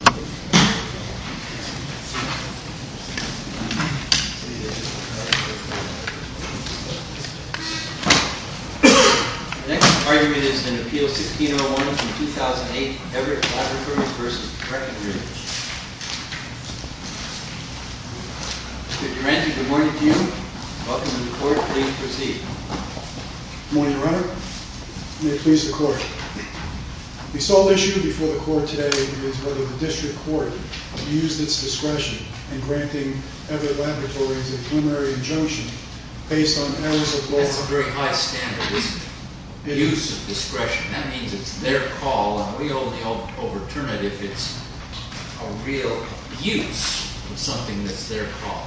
The next argument is in Appeal 16-01 from 2008, Everett Labs v. Breckenridge. Mr. Durante, good morning to you. Welcome to the Court. Please proceed. Good morning, Your Honor. May it please the Court. The sole issue before the Court today is whether the District Court used its discretion in granting Everett Laboratories a plenary injunction based on errors of law. That's a very high standard, isn't it? Use of discretion. That means it's their call, and we only overturn it if it's a real use of something that's their call.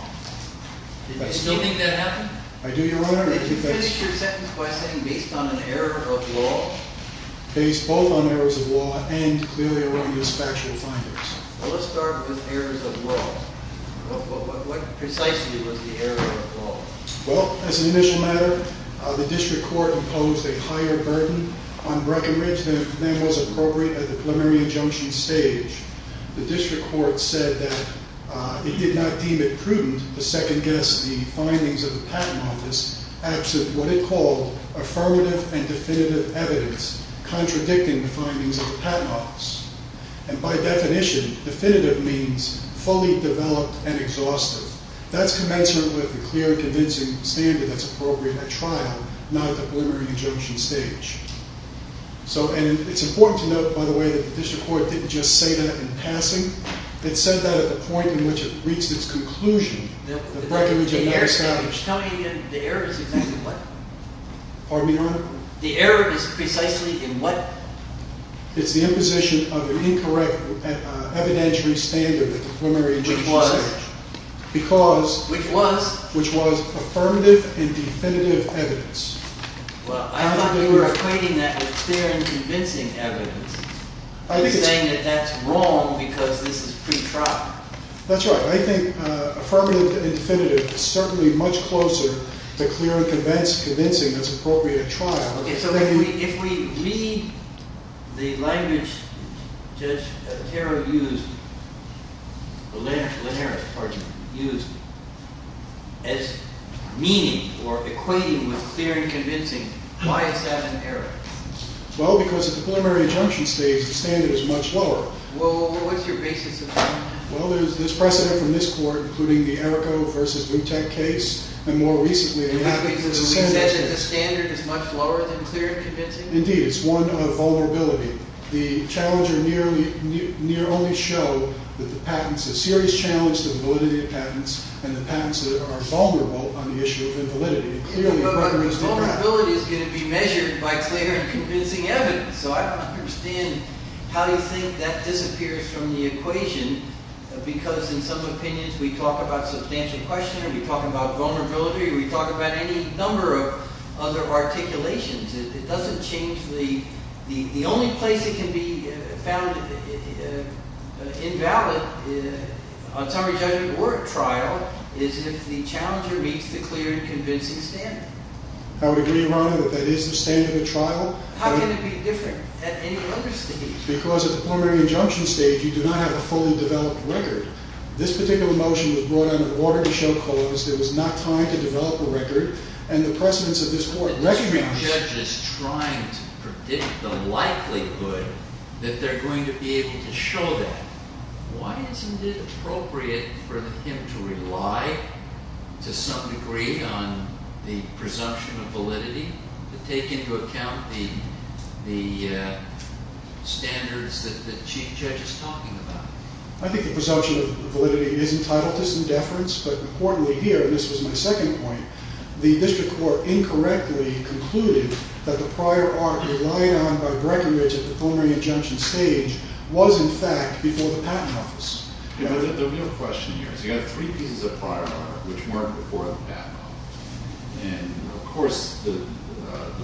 Do you still think that happened? I do, Your Honor. Did you finish your sentence by saying based on an error of law? Based both on errors of law and clearly erroneous factual findings. Well, let's start with errors of law. What precisely was the error of law? Well, as an initial matter, the District Court imposed a higher burden on Breckenridge than was appropriate at the plenary injunction stage. The District Court said that it did not deem it prudent to second-guess the findings of the Patent Office after what it called affirmative and definitive evidence contradicting the findings of the Patent Office. And by definition, definitive means fully developed and exhaustive. That's commensurate with the clear and convincing standard that's appropriate at trial, not at the plenary injunction stage. And it's important to note, by the way, that the District Court didn't just say that in passing. It said that at the point in which it reached its conclusion that Breckenridge had not established. Tell me again, the error is exactly what? Pardon me, Your Honor? The error is precisely in what? It's the imposition of an incorrect evidentiary standard at the plenary injunction stage. Which was? Because. Which was? Which was affirmative and definitive evidence. Well, I thought you were equating that with clear and convincing evidence. I think it's. You're saying that that's wrong because this is pretrial. That's right. I think affirmative and definitive is certainly much closer to clear and convincing that's appropriate at trial. Okay, so if we read the language Judge Linares used as meaning or equating with clear and convincing, why is that an error? Well, because at the plenary injunction stage, the standard is much lower. Well, what's your basis of that? Well, there's precedent from this Court, including the Errico v. Boutek case. You're saying that the standard is much lower than clear and convincing? Indeed, it's one of vulnerability. The challenger near only showed that the patents, a serious challenge to the validity of patents, and the patents are vulnerable on the issue of invalidity. Vulnerability is going to be measured by clear and convincing evidence. So I don't understand how you think that disappears from the equation. Because in some opinions, we talk about substantial question, we talk about vulnerability, we talk about any number of other articulations. It doesn't change the – the only place it can be found invalid on summary judgment or at trial is if the challenger meets the clear and convincing standard. I would agree, Your Honor, that that is the standard at trial. How can it be different at any other stage? Because at the preliminary injunction stage, you do not have a fully developed record. This particular motion was brought under order to show cause. There was not time to develop a record, and the precedents of this Court recognize – But this judge is trying to predict the likelihood that they're going to be able to show that. Why isn't it appropriate for him to rely to some degree on the presumption of validity to take into account the standards that the Chief Judge is talking about? I think the presumption of validity is entitled to some deference, but importantly here, and this was my second point, the district court incorrectly concluded that the prior art relied on by Breckinridge at the preliminary injunction stage was, in fact, before the Patent Office. The real question here is you have three pieces of prior art which weren't before the Patent Office, and, of course, the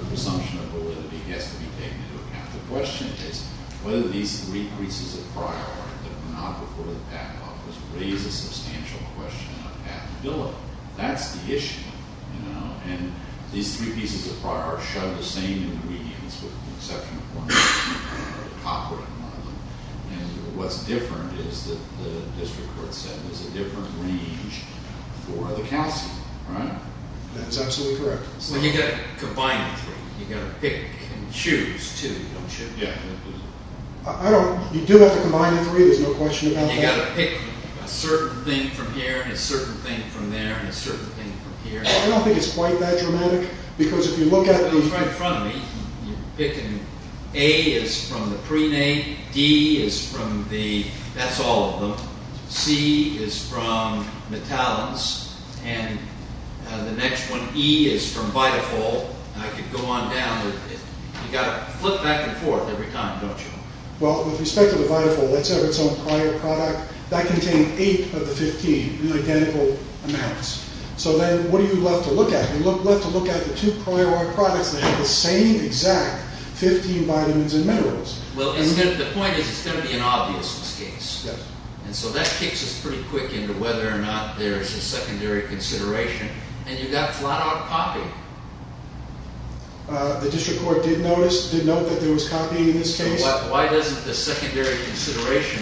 presumption of validity has to be taken into account. The question is whether these three pieces of prior art that were not before the Patent Office raise a substantial question of patentability. That's the issue, you know, and these three pieces of prior art show the same ingredients with the exception of one. What's different is that the district court said there's a different range for the calcium, right? That's absolutely correct. Well, you've got to combine the three. You've got to pick and choose, too, don't you? Yeah. You do have to combine the three. There's no question about that. You've got to pick a certain thing from here and a certain thing from there and a certain thing from here. I don't think it's quite that dramatic because if you look at the… It's right in front of me. You're picking A is from the prenatal, D is from the… that's all of them. C is from the talons, and the next one, E, is from Vitafol. I could go on down, but you've got to flip back and forth every time, don't you? Well, with respect to the Vitafol, that's ever its own prior product. That contained eight of the 15 in identical amounts. So then what are you left to look at? You're left to look at the two prior art products that have the same exact 15 vitamins and minerals. Well, the point is it's going to be an obvious mistake. Yes. And so that kicks us pretty quick into whether or not there's a secondary consideration, and you've got flat out copy. The district court did notice, did note that there was copy in this case. Why doesn't the secondary consideration,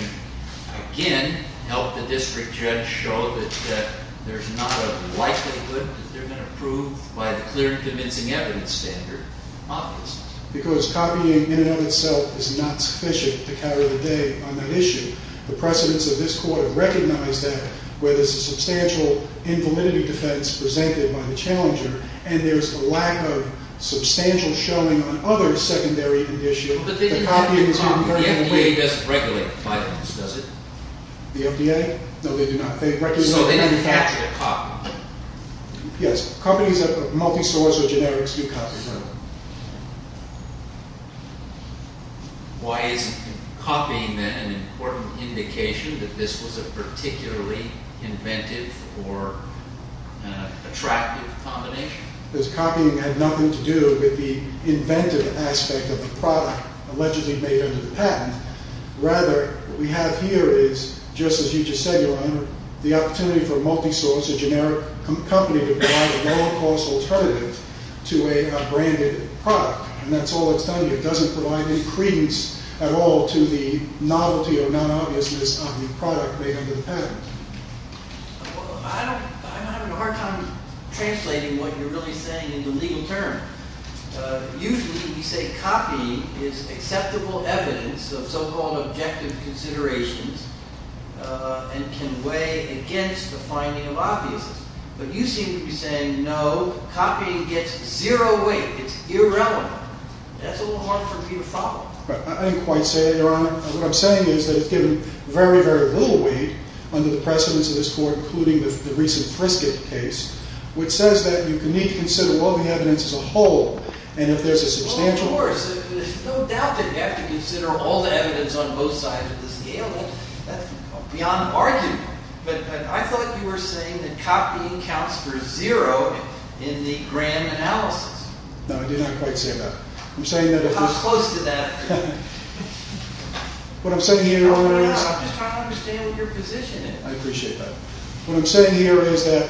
again, help the district judge show that there's not a likelihood that they're going to prove by the clear and convincing evidence standard? Obviously. Because copying in and of itself is not sufficient to cover the day on that issue. The precedents of this court have recognized that where there's a substantial invalidity defense presented by the challenger, and there's a lack of substantial showing on other secondary conditions. But the FDA doesn't regulate vitamins, does it? The FDA? No, they do not. So they didn't catch the copy. Yes. Companies that are multi-source or generics do catch the copy. Why is copying an important indication that this was a particularly inventive or attractive combination? Because copying had nothing to do with the inventive aspect of the product allegedly made under the patent. Rather, what we have here is, just as you just said, Your Honor, the opportunity for a multi-source, a generic company to provide a low-cost alternative to a branded product. And that's all that's done here. It doesn't provide any credence at all to the novelty or non-obviousness of the product made under the patent. I'm having a hard time translating what you're really saying in the legal term. Usually, you say copying is acceptable evidence of so-called objective considerations and can weigh against the finding of obviousness. But you seem to be saying, no, copying gets zero weight. It's irrelevant. That's a little hard for me to follow. I didn't quite say that, Your Honor. What I'm saying is that it's given very, very little weight under the precedence of this court, including the recent Frisket case, which says that you need to consider all the evidence as a whole, and if there's a substantial... Well, of course. There's no doubt that you have to consider all the evidence on both sides of the scale. That's beyond argument. But I thought you were saying that copying counts for zero in the grand analysis. No, I did not quite say that. I'm saying that... How close to that are you? What I'm saying here is... I'm just trying to understand what your position is. I appreciate that. What I'm saying here is that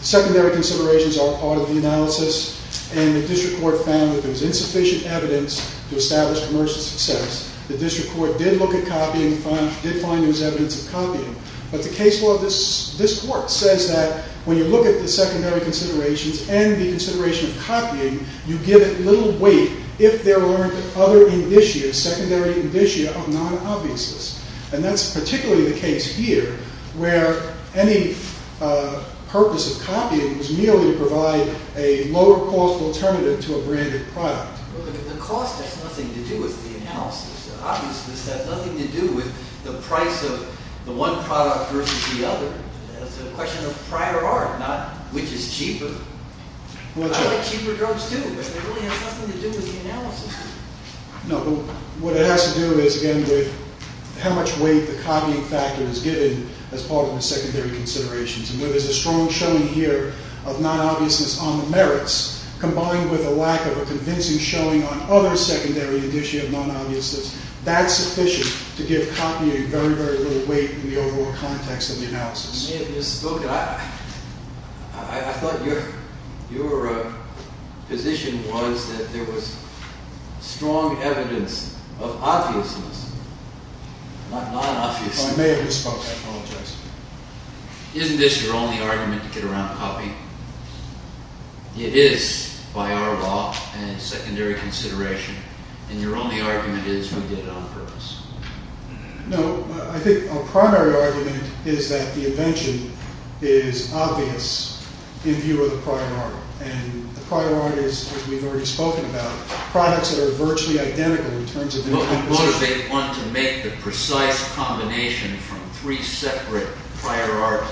secondary considerations are part of the analysis, and the district court found that there was insufficient evidence to establish commercial success. The district court did look at copying, did find there was evidence of copying. But the case law of this court says that when you look at the secondary considerations and the consideration of copying, you give it little weight if there aren't other indicia, secondary indicia of non-obviousness. And that's particularly the case here, where any purpose of copying is merely to provide a lower-cost alternative to a branded product. Well, the cost has nothing to do with the analysis. Obviousness has nothing to do with the price of the one product versus the other. That's a question of prior art, not which is cheaper. I like cheaper drugs, too, but they really have nothing to do with the analysis. No, but what it has to do is, again, with how much weight the copying factor is given as part of the secondary considerations. And where there's a strong showing here of non-obviousness on the merits, combined with a lack of a convincing showing on other secondary indicia of non-obviousness, that's sufficient to give copying very, very little weight in the overall context of the analysis. You may have just spoken. I thought your position was that there was strong evidence of obviousness, not non-obviousness. I may have just spoken. I apologize. Isn't this your only argument to get around copying? It is by our law and secondary consideration, and your only argument is we did it on purpose. No, I think our primary argument is that the invention is obvious in view of the prior art. And the prior art is, as we've already spoken about, products that are virtually identical in terms of their composition. Well, what if they want to make the precise combination from three separate prior art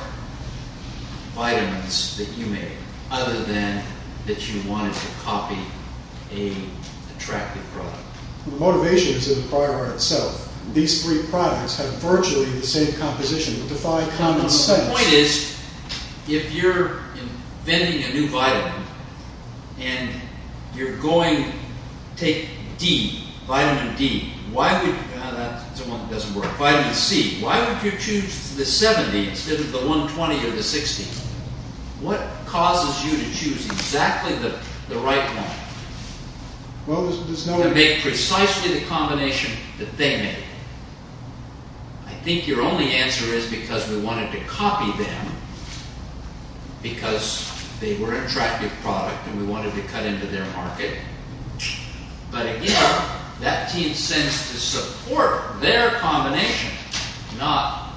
vitamins that you made, other than that you wanted to copy an attractive product? The motivation is in the prior art itself. These three products have virtually the same composition, but defy common sense. The point is, if you're inventing a new vitamin, and you're going to take D, vitamin D, why would you choose the 70 instead of the 120 or the 60? What causes you to choose exactly the right one? Well, there's no... To make precisely the combination that they made. I think your only answer is because we wanted to copy them, because they were an attractive product, and we wanted to cut into their market. But again, that team sends to support their combination, not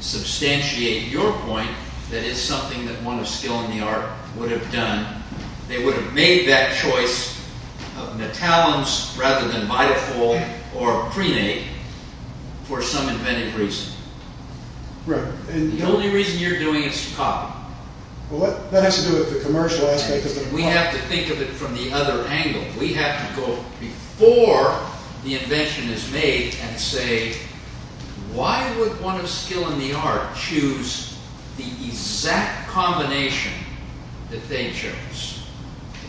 substantiate your point that it's something that one of skill in the art would have done. They would have made that choice of metallums rather than Vitafol or Prenate for some inventive reason. Right. The only reason you're doing is to copy. Well, that has to do with the commercial aspect of the product. We have to think of it from the other angle. We have to go before the invention is made and say, why would one of skill in the art choose the exact combination that they chose?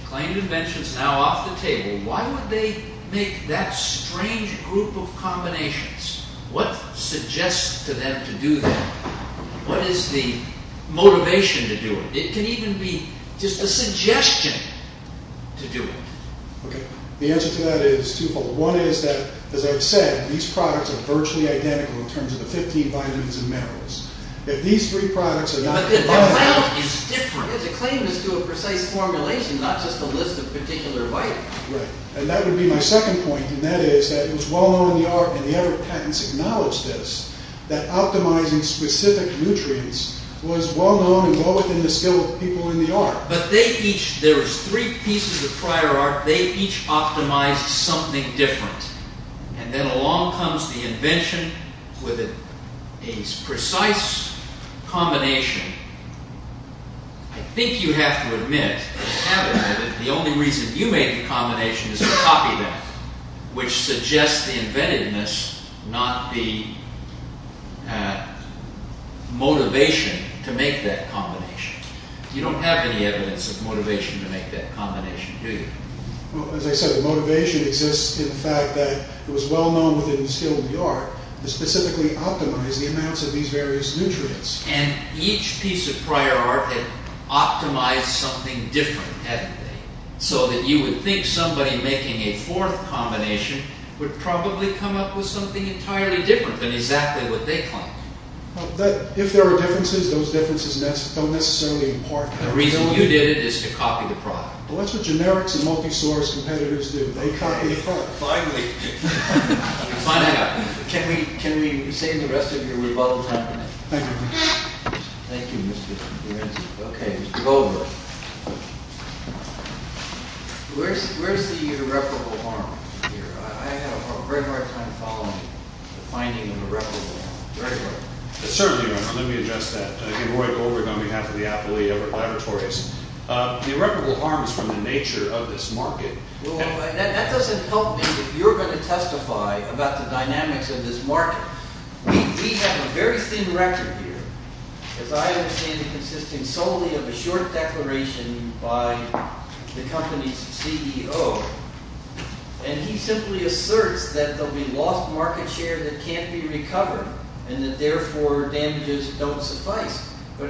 The claim of invention is now off the table. Why would they make that strange group of combinations? What suggests to them to do that? What is the motivation to do it? It can even be just a suggestion to do it. Okay. The answer to that is twofold. One is that, as I've said, these products are virtually identical in terms of the 15 vitamins and minerals. If these three products are not the same. But the amount is different. The claim is to a precise formulation, not just a list of particular vitamins. Right. And that would be my second point, and that is that it was well known in the art, and the other patents acknowledged this, that optimizing specific nutrients was well known and well within the skill of people in the art. But they each, there was three pieces of prior art. They each optimized something different. And then along comes the invention with a precise combination. I think you have to admit that the only reason you made the combination is a copy of that, which suggests the inventiveness, not the motivation to make that combination. You don't have any evidence of motivation to make that combination, do you? Well, as I said, the motivation exists in the fact that it was well known within the skill of the art to specifically optimize the amounts of these various nutrients. And each piece of prior art had optimized something different, hadn't they? So that you would think somebody making a fourth combination would probably come up with something entirely different than exactly what they claimed. If there are differences, those differences don't necessarily impart... The reason you did it is to copy the product. Well, that's what generics and multi-source competitors do. They copy the product. Finally. Can we save the rest of your rebuttal time? Thank you. Thank you, Mr. Lorenzo. Okay, Mr. Goldberg. Where's the irreparable harm here? I had a very hard time following the finding of irreparable harm. Very hard. Certainly, Mr. Lorenzo. Let me address that. I'm Roy Goldberg on behalf of the Appellee Everett Laboratories. The irreparable harm is from the nature of this market. Well, that doesn't help me if you're going to testify about the dynamics of this market. We have a very thin record here, as I understand it, consisting solely of a short declaration by the company's CEO. And he simply asserts that there'll be lost market share that can't be recovered and that, therefore, damages don't suffice. But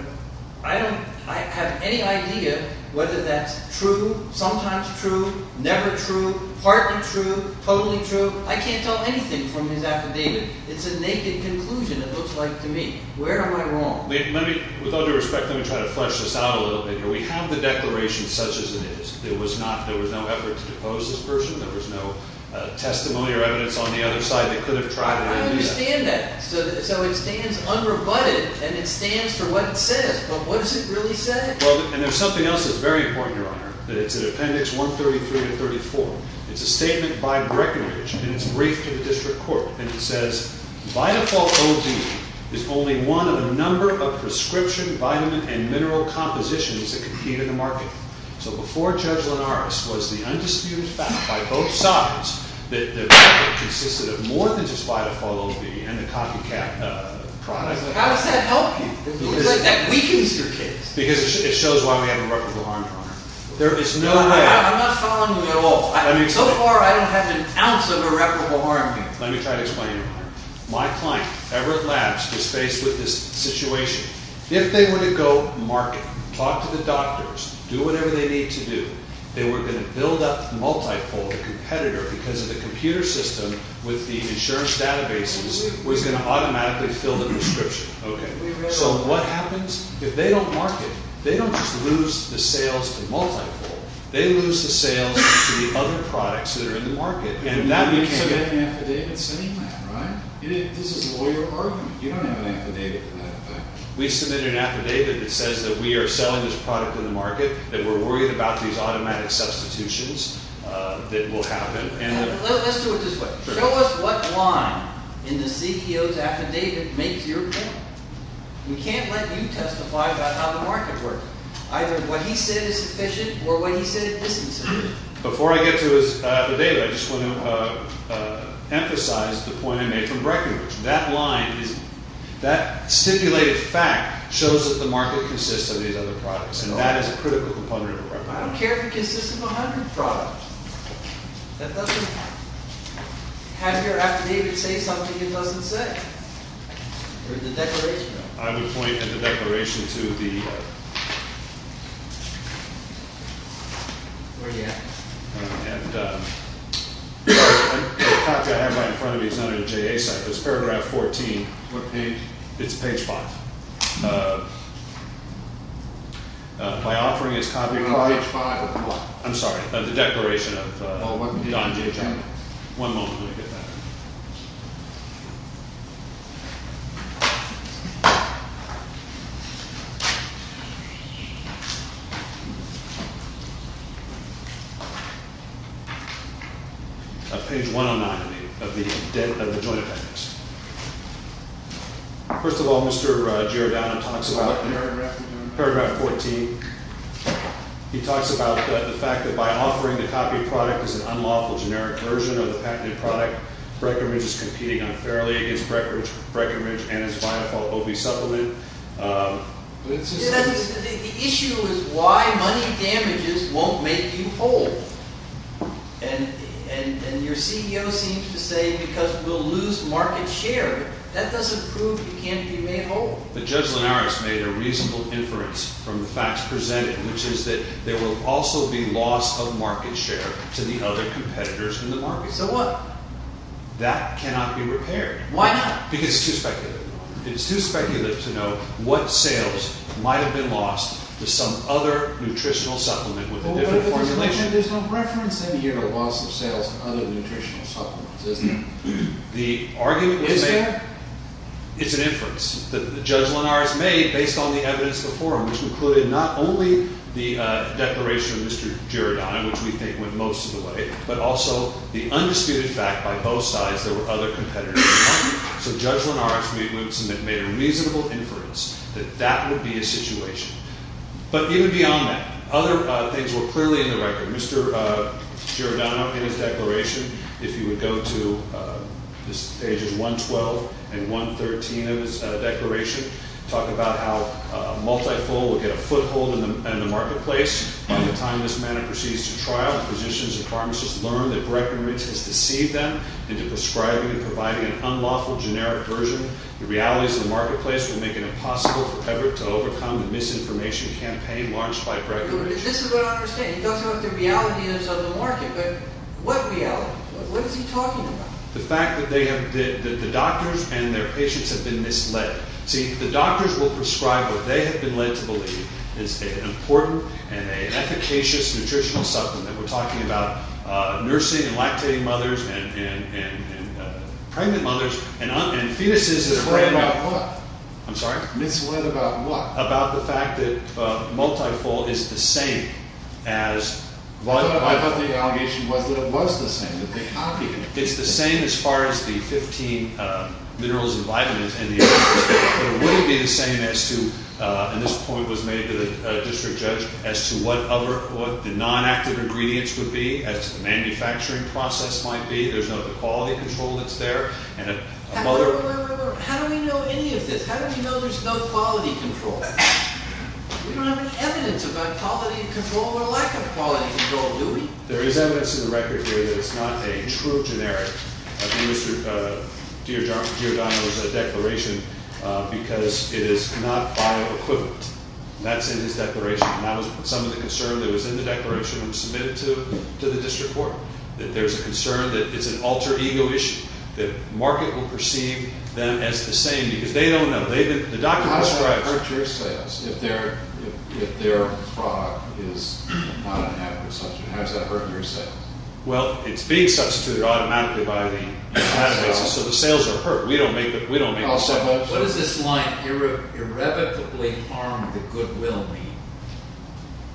I have any idea whether that's true, sometimes true, never true, partly true, totally true. I can't tell anything from his affidavit. It's a naked conclusion, it looks like to me. Where am I wrong? With all due respect, let me try to flesh this out a little bit here. We have the declaration such as it is. There was no effort to depose this person. There was no testimony or evidence on the other side that could have tried to do that. I understand that. So it stands unrebutted, and it stands for what it says. But what does it really say? Well, and there's something else that's very important, Your Honor, that it's in Appendix 133 to 134. It's a statement by Breckenridge, and it's briefed to the district court. And it says, By default, OD is only one of a number of prescription vitamin and mineral compositions that compete in the market. So before Judge Linares was the undisputed fact by both sides that the market consisted of more than just phytophthalose B and the copycat product. How does that help you? It looks like that weakens your case. Because it shows why we have irreparable harm, Your Honor. There is no way. I'm not following you at all. So far, I don't have an ounce of irreparable harm here. Let me try to explain, Your Honor. My client, Everett Labs, is faced with this situation. If they were to go market, talk to the doctors, do whatever they need to do, they were going to build up, multi-fold, a competitor because of the computer system with the insurance databases was going to automatically fill the prescription. Okay. So what happens? If they don't market, they don't just lose the sales to multi-fold. They lose the sales to the other products that are in the market. And that became an affidavit saying that, right? This is lawyer argument. You don't have an affidavit. We submitted an affidavit that says that we are selling this product in the market, that we're worried about these automatic substitutions that will happen. Let's do it this way. Show us what line in the CEO's affidavit makes your point. We can't let you testify about how the market works. Either what he said is sufficient or what he said isn't sufficient. Before I get to his affidavit, I just want to emphasize the point I made from Breckenridge. That line is – that stipulated fact shows that the market consists of these other products. And that is a critical component of Breckenridge. I don't care if it consists of 100 products. That doesn't – have your affidavit say something it doesn't say. Or the declaration. I would point at the declaration to the – Where are you at? And the copy I have right in front of me is under the JA site. There's paragraph 14. What page? It's page 5. My offering is copy – You're on page 5. I'm sorry. The declaration of Don J. Johnson. One moment, let me get that. Page 109 of the Joint Appendix. First of all, Mr. Giordano talks about paragraph 14. He talks about the fact that by offering the copy product as an unlawful generic version of the patented product, Breckenridge is competing unfairly against Breckenridge and his Biafalt OB supplement. The issue is why money damages won't make you whole. And your CEO seems to say because we'll lose market share. That doesn't prove you can't be made whole. But Judge Linares made a reasonable inference from the facts presented, which is that there will also be loss of market share to the other competitors in the market. So what? That cannot be repaired. Why not? Because it's too speculative. It's too speculative to know what sales might have been lost to some other nutritional supplement with a different formulation. There's no reference in here to loss of sales to other nutritional supplements, is there? The argument was made – Is there? It's an inference that Judge Linares made based on the evidence before him, which included not only the declaration of Mr. Giordano, which we think went most of the way, but also the undisputed fact by both sides there were other competitors in the market. So Judge Linares made a reasonable inference that that would be a situation. But even beyond that, other things were clearly in the record. Mr. Giordano in his declaration, if you would go to pages 112 and 113 of his declaration, talk about how a multifold would get a foothold in the marketplace by the time this matter proceeds to trial. Physicians and pharmacists learn that Breckenridge has deceived them into prescribing and providing an unlawful generic version. The realities of the marketplace would make it impossible for Everett to overcome the misinformation campaign launched by Breckenridge. This is what I don't understand. He talks about the reality that's on the market, but what reality? What is he talking about? The fact that the doctors and their patients have been misled. See, the doctors will prescribe what they have been led to believe is an important and an efficacious nutritional supplement that we're talking about nursing and lactating mothers and pregnant mothers and fetuses- Misled about what? I'm sorry? Misled about what? About the fact that multifold is the same as- I thought the allegation was that it was the same, that they copied it. It's the same as far as the 15 minerals and vitamins in the agreement. It wouldn't be the same as to, and this point was made to the district judge, as to what the non-active ingredients would be, as to the manufacturing process might be. There's no quality control that's there. How do we know any of this? How do we know there's no quality control? We don't have any evidence about quality control or lack of quality control, do we? There is evidence in the record here that it's not a true generic of Mr. Giordano's declaration because it is not bioequivalent. That's in his declaration, and that was some of the concern that was in the declaration when it was submitted to the district court, that there's a concern that it's an alter ego issue, that market will perceive them as the same because they don't know. How does that hurt your sales if their product is not an adequate substitute? How does that hurt your sales? Well, it's being substituted automatically by the plant basis, so the sales are hurt. We don't make the sales. What does this line, irrevocably harm the goodwill mean?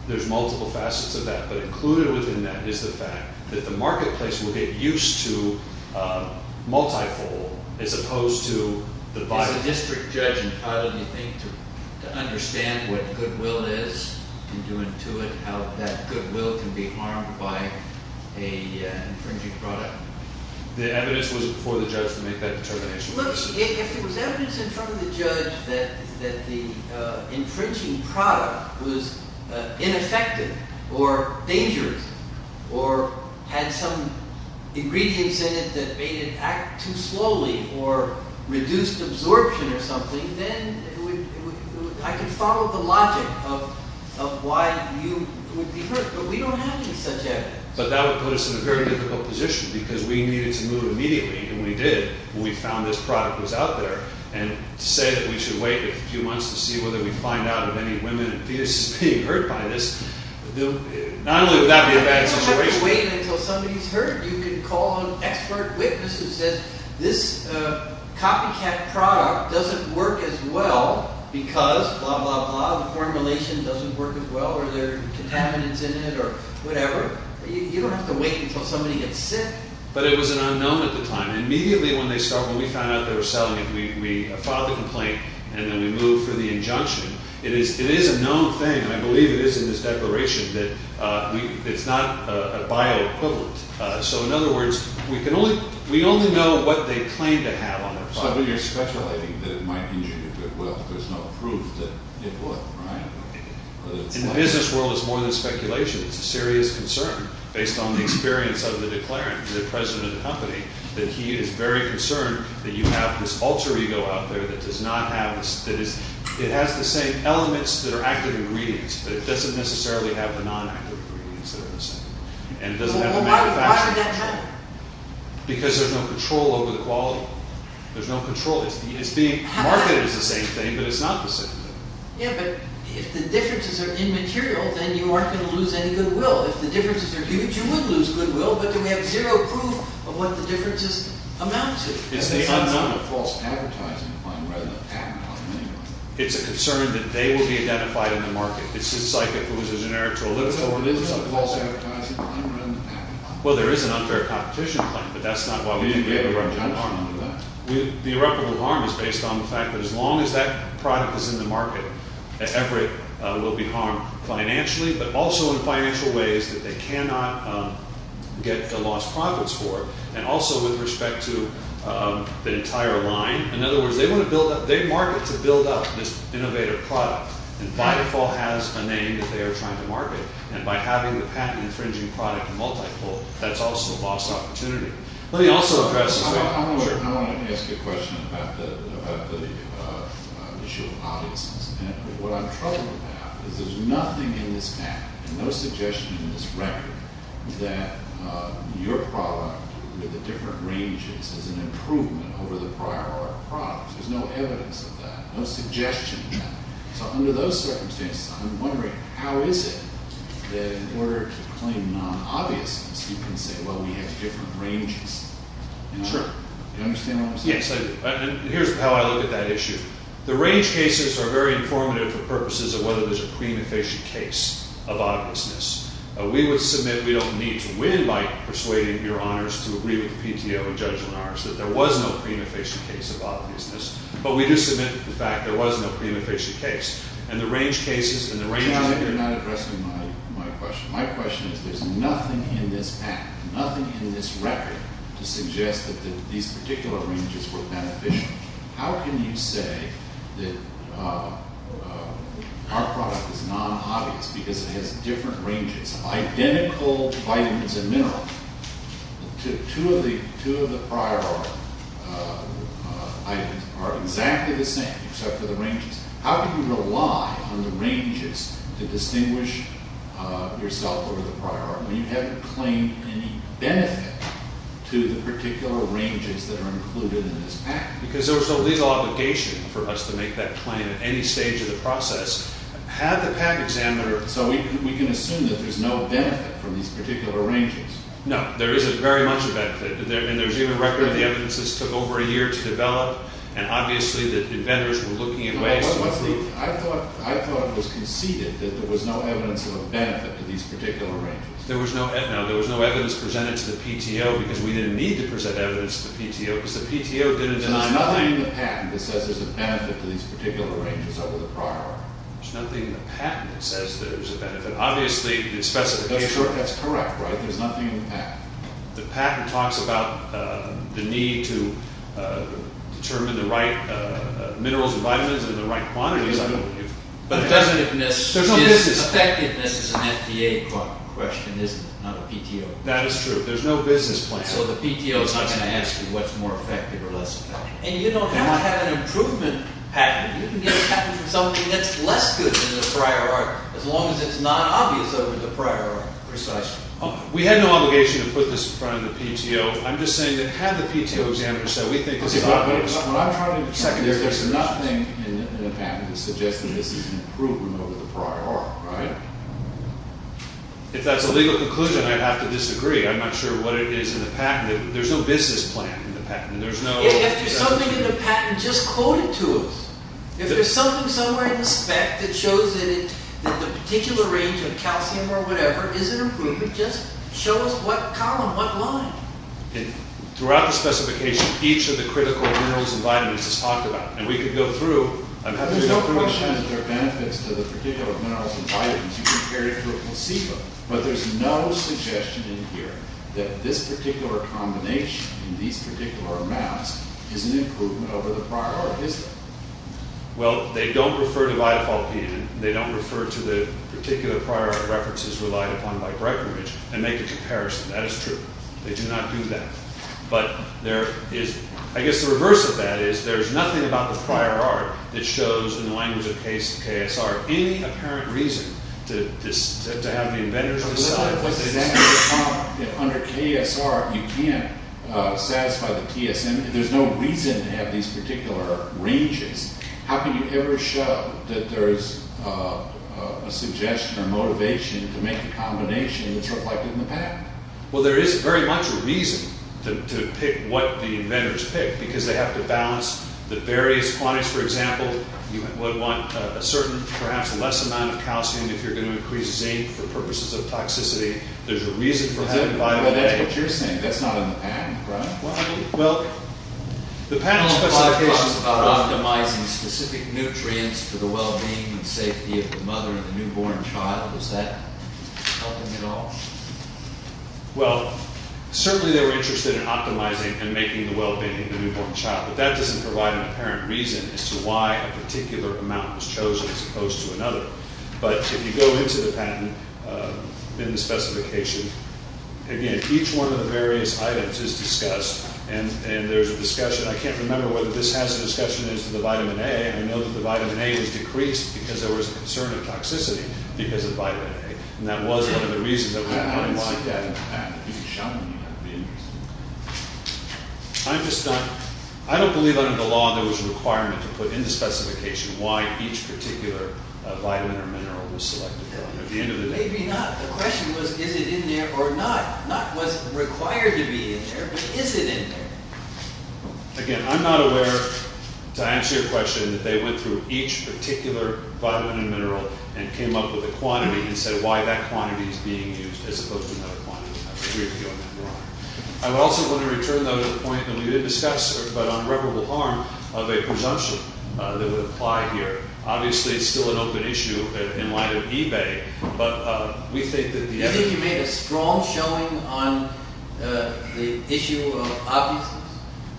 There's multiple facets of that, but included within that is the fact that the marketplace will get used to multifold as opposed to the bioequivalent. As a district judge, how do you think to understand what goodwill is? Can you intuit how that goodwill can be harmed by an infringing product? The evidence was before the judge to make that determination. Look, if it was evidence in front of the judge that the infringing product was ineffective or dangerous or had some ingredients in it that made it act too slowly or reduced absorption or something, then I can follow the logic of why you would be hurt, but we don't have any such evidence. But that would put us in a very difficult position because we needed to move immediately, and we did. We found this product was out there, and to say that we should wait a few months to see whether we find out if any women and fetuses are being hurt by this, not only would that be a bad situation. You don't have to wait until somebody's hurt. You can call an expert witness who says, this copycat product doesn't work as well because blah, blah, blah. The formulation doesn't work as well or there are contaminants in it or whatever. You don't have to wait until somebody gets sick. But it was an unknown at the time, and immediately when they started, when we found out they were selling it, we filed a complaint, and then we moved for the injunction. It is a known thing, and I believe it is in this declaration, that it's not a bioequivalent. So in other words, we only know what they claim to have on their products. But you're speculating that it might injure your goodwill. There's no proof that it would, right? In the business world, it's more than speculation. It's a serious concern based on the experience of the declarant, the president of the company, that he is very concerned that you have this alter ego out there that does not have this. It has the same elements that are active ingredients, but it doesn't necessarily have the non-active ingredients that are the same. And it doesn't have the manufacturing. Well, why would that matter? Because there's no control over the quality. There's no control. It's being marketed as the same thing, but it's not the same thing. Yeah, but if the differences are immaterial, then you aren't going to lose any goodwill. If the differences are huge, you would lose goodwill, but then we have zero proof of what the differences amount to. It's the unknown. It's a false advertising plan rather than a patent on the name. It's a concern that they will be identified in the market. It's just like if it was a generic toilet paper. So it is a false advertising plan rather than a patent on it. Well, there is an unfair competition plan, but that's not why we didn't get a rupture in harm. The rupture in harm is based on the fact that as long as that product is in the market, that effort will be harmed financially, but also in financial ways that they cannot get the lost profits for, and also with respect to the entire line. In other words, they market to build up this innovative product, and by default has a name that they are trying to market, and by having the patent-infringing product multipole, that's also a lost opportunity. Let me also address this way. I want to ask a question about the issue of audiences. What I'm troubled about is there's nothing in this act, and no suggestion in this record, that your product with the different ranges is an improvement over the prior product. There's no evidence of that, no suggestion of that. So under those circumstances, I'm wondering, how is it that in order to claim non-obviousness, you can say, well, we have different ranges? Do you understand what I'm saying? Yes, I do. And here's how I look at that issue. The range cases are very informative for purposes of whether there's a prima facie case of obviousness. We would submit we don't need to win by persuading your honors to agree with the PTO and judge on ours, that there was no prima facie case of obviousness, but we do submit the fact there was no prima facie case. And the range cases and the range of- You're not addressing my question. My question is there's nothing in this act, nothing in this record to suggest that these particular ranges were beneficial. How can you say that our product is non-obvious because it has different ranges, identical vitamins and minerals? Two of the prior items are exactly the same except for the ranges. How can you rely on the ranges to distinguish yourself over the prior? You haven't claimed any benefit to the particular ranges that are included in this act. Because there was no legal obligation for us to make that claim at any stage of the process. Had the patent examiner- So we can assume that there's no benefit from these particular ranges. No, there isn't very much a benefit. And there's even record of the evidence this took over a year to develop, and obviously the inventors were looking at ways to improve- I thought it was conceded that there was no evidence of a benefit to these particular ranges. There was no evidence presented to the PTO because we didn't need to present evidence to the PTO because the PTO didn't deny- There's nothing in the patent that says there's a benefit to these particular ranges over the prior. There's nothing in the patent that says there's a benefit. Obviously, the specification- That's correct, right? There's nothing in the patent. The patent talks about the need to determine the right minerals and vitamins in the right quantities. But effectiveness is an FDA question, isn't it? Not a PTO. That is true. There's no business plan. So the PTO is not going to ask you what's more effective or less effective. And you don't have to have an improvement patent. You can get a patent for something that's less good than the prior art, as long as it's not obvious over the prior art. Precisely. We had no obligation to put this in front of the PTO. I'm just saying that had the PTO examiners said, we think this is- What I'm trying to say is there's nothing in the patent that suggests that this is an improvement over the prior art, right? If that's a legal conclusion, I'd have to disagree. I'm not sure what it is in the patent. There's no business plan in the patent. If there's something in the patent, just quote it to us. If there's something somewhere in the spec that shows that the particular range of calcium or whatever is an improvement, just show us what column, what line. Throughout the specification, each of the critical minerals and vitamins is talked about. And we could go through- There's no question that there are benefits to the particular minerals and vitamins. You can compare it to a placebo. But there's no suggestion in here that this particular combination in these particular maps is an improvement over the prior art, is there? Well, they don't refer to Vitafolpidin. They don't refer to the particular prior art references relied upon by Breckenridge and make a comparison. That is true. They do not do that. I guess the reverse of that is there's nothing about the prior art that shows, in the language of KSR, any apparent reason to have the inventors decide. Under KSR, you can't satisfy the TSM. There's no reason to have these particular ranges. How can you ever show that there's a suggestion or motivation to make a combination that's reflected in the patent? Well, there is very much a reason to pick what the inventors pick because they have to balance the various quantities. For example, you would want a certain, perhaps less amount of calcium if you're going to increase zinc for purposes of toxicity. There's a reason for having vitamin A. But that's what you're saying. That's not in the patent, right? Well, the patent specifies- Well, certainly they were interested in optimizing and making the well-being of the newborn child. But that doesn't provide an apparent reason as to why a particular amount was chosen as opposed to another. But if you go into the patent, in the specification, again, each one of the various items is discussed. And there's a discussion. I can't remember whether this has a discussion as to the vitamin A. I know that the vitamin A was decreased because there was a concern of toxicity because of vitamin A. And that was one of the reasons that we wouldn't like that in the patent. If you show them, you have to be interested. I'm just not- I don't believe under the law there was a requirement to put in the specification why each particular vitamin or mineral was selected. At the end of the day- Maybe not. The question was, is it in there or not? Not was it required to be in there, but is it in there? Again, I'm not aware, to answer your question, that they went through each particular vitamin and mineral and came up with a quantity and said why that quantity is being used as opposed to another quantity. I have a weird feeling that you're wrong. I also want to return, though, to the point that we did discuss, but on irreparable harm, of a presumption that would apply here. Obviously, it's still an open issue in light of eBay, but we think that the evidence-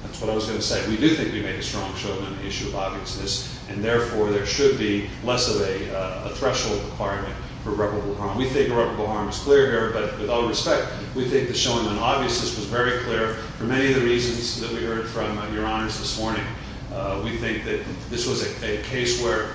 That's what I was going to say. We do think we made a strong show on the issue of obviousness, and therefore, there should be less of a threshold requirement for irreparable harm. We think irreparable harm is clear here, but with all respect, we think the showing on obviousness was very clear for many of the reasons that we heard from your honors this morning. We think that this was a case where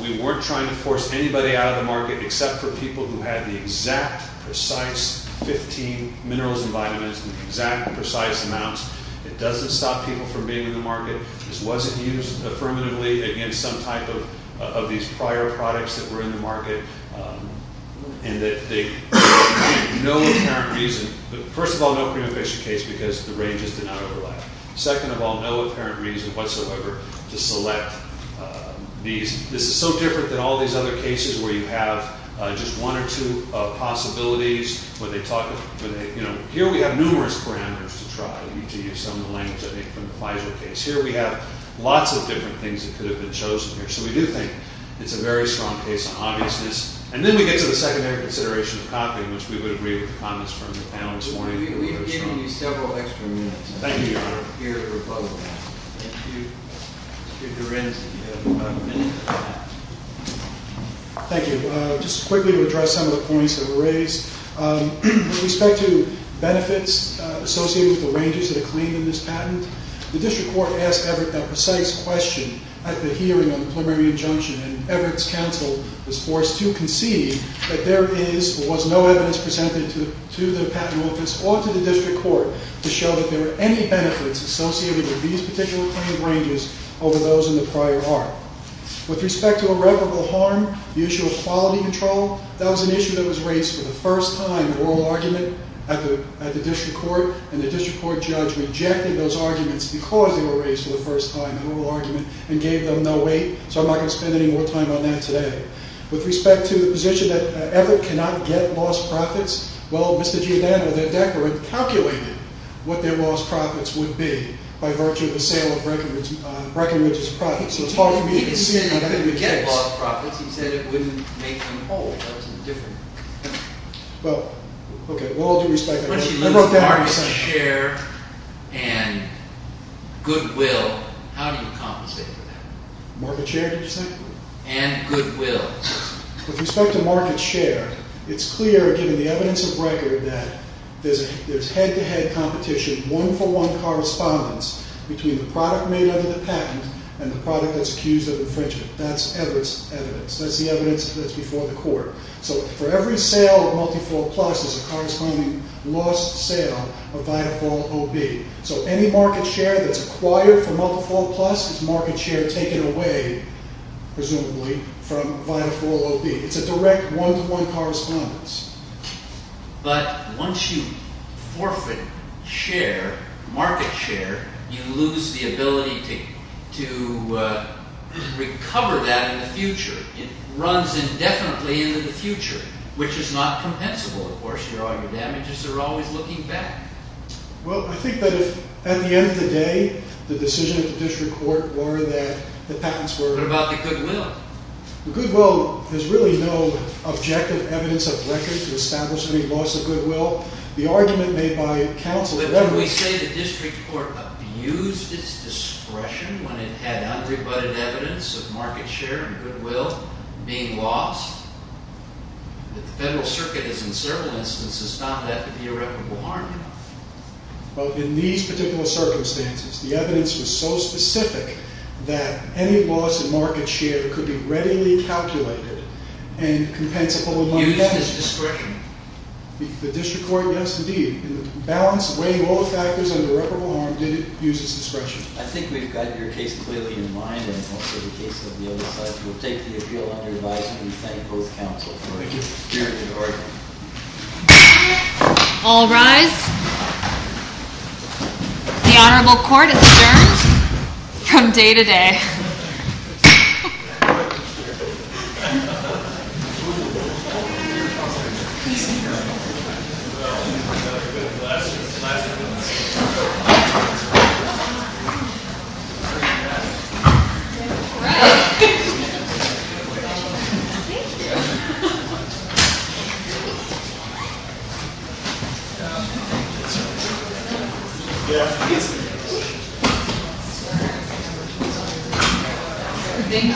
we weren't trying to force anybody out of the market except for people who had the exact, precise 15 minerals and vitamins in exact, precise amounts. It doesn't stop people from being in the market. This wasn't used affirmatively against some type of these prior products that were in the market, and that they, for no apparent reason- First of all, no pre-efficient case because the ranges did not overlap. Second of all, no apparent reason whatsoever to select these. This is so different than all these other cases where you have just one or two possibilities. Here we have numerous parameters to try, to use some of the language I think from the Pfizer case. Here we have lots of different things that could have been chosen here, so we do think it's a very strong case on obviousness. And then we get to the secondary consideration of copying, which we would agree with the comments from the panel this morning. We've given you several extra minutes. Thank you, Your Honor. Thank you. Thank you. Just quickly to address some of the points that were raised. With respect to benefits associated with the ranges that are claimed in this patent, the district court asked Everett a precise question at the hearing on the preliminary injunction, and Everett's counsel was forced to concede that there is or was no evidence presented to the patent office or to the district court to show that there were any benefits associated with these particular claims ranges over those in the prior art. With respect to irreparable harm, the issue of quality control, that was an issue that was raised for the first time in oral argument at the district court, and the district court judge rejected those arguments because they were raised for the first time in oral argument and gave them no weight, so I'm not going to spend any more time on that today. With respect to the position that Everett cannot get lost profits, well, Mr. Giordano, the decorate, calculated what their lost profits would be by virtue of the sale of Breckenridge's profits, so it's hard for me to see how that would be the case. He didn't say they couldn't get lost profits. He said it wouldn't make them whole. That was a different thing. Well, okay, with all due respect, I wrote that down. Once you lose market share and goodwill, how do you compensate for that? Market share, did you say? And goodwill. With respect to market share, it's clear, given the evidence of record, that there's head-to-head competition, one-for-one correspondence between the product made under the patent and the product that's accused of infringement. That's Everett's evidence. That's the evidence that's before the court. So for every sale of Multifold Plus, there's a corresponding lost sale of Vitafol OB. So any market share that's acquired from Multifold Plus is market share taken away, presumably, from Vitafol OB. It's a direct one-to-one correspondence. But once you forfeit share, market share, you lose the ability to recover that in the future. It runs indefinitely into the future, which is not compensable, of course. All your damages are always looking back. Well, I think that if, at the end of the day, the decision of the district court were that the patents were- What about the goodwill? The goodwill has really no objective evidence of record to establish any loss of goodwill. The argument made by counsel- But when we say the district court abused its discretion when it had unrebutted evidence of market share and goodwill being lost, that the Federal Circuit has, in several instances, found that to be irreparable harm. Well, in these particular circumstances, the evidence was so specific that any loss in market share could be readily calculated and compensable- Used its discretion. The district court, yes, indeed. In the balance of weighing all the factors under irreparable harm, did it use its discretion. I think we've got your case clearly in mind and also the case of the other side. We'll take the appeal on your advice and we thank both counsel for it. All rise. The Honorable Court is adjourned from day to day. Thank you. Thank you.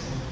Thank you. Thank you. Thank you. Wasn't it? No. Okay. Okay. Thank you.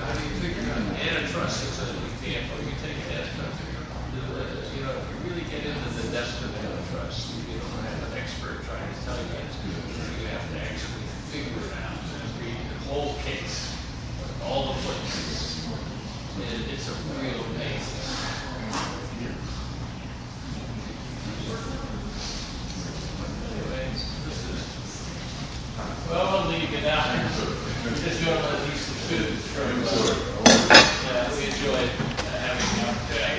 How do you figure out antitrust? If you really get into the depths of antitrust, you don't have an expert trying to tell you how to do it, you actually have to figure it out. Read the whole case. All the points. It's a real place. Well, I'm going to leave you now. If you want to do some food, we enjoyed having you on today.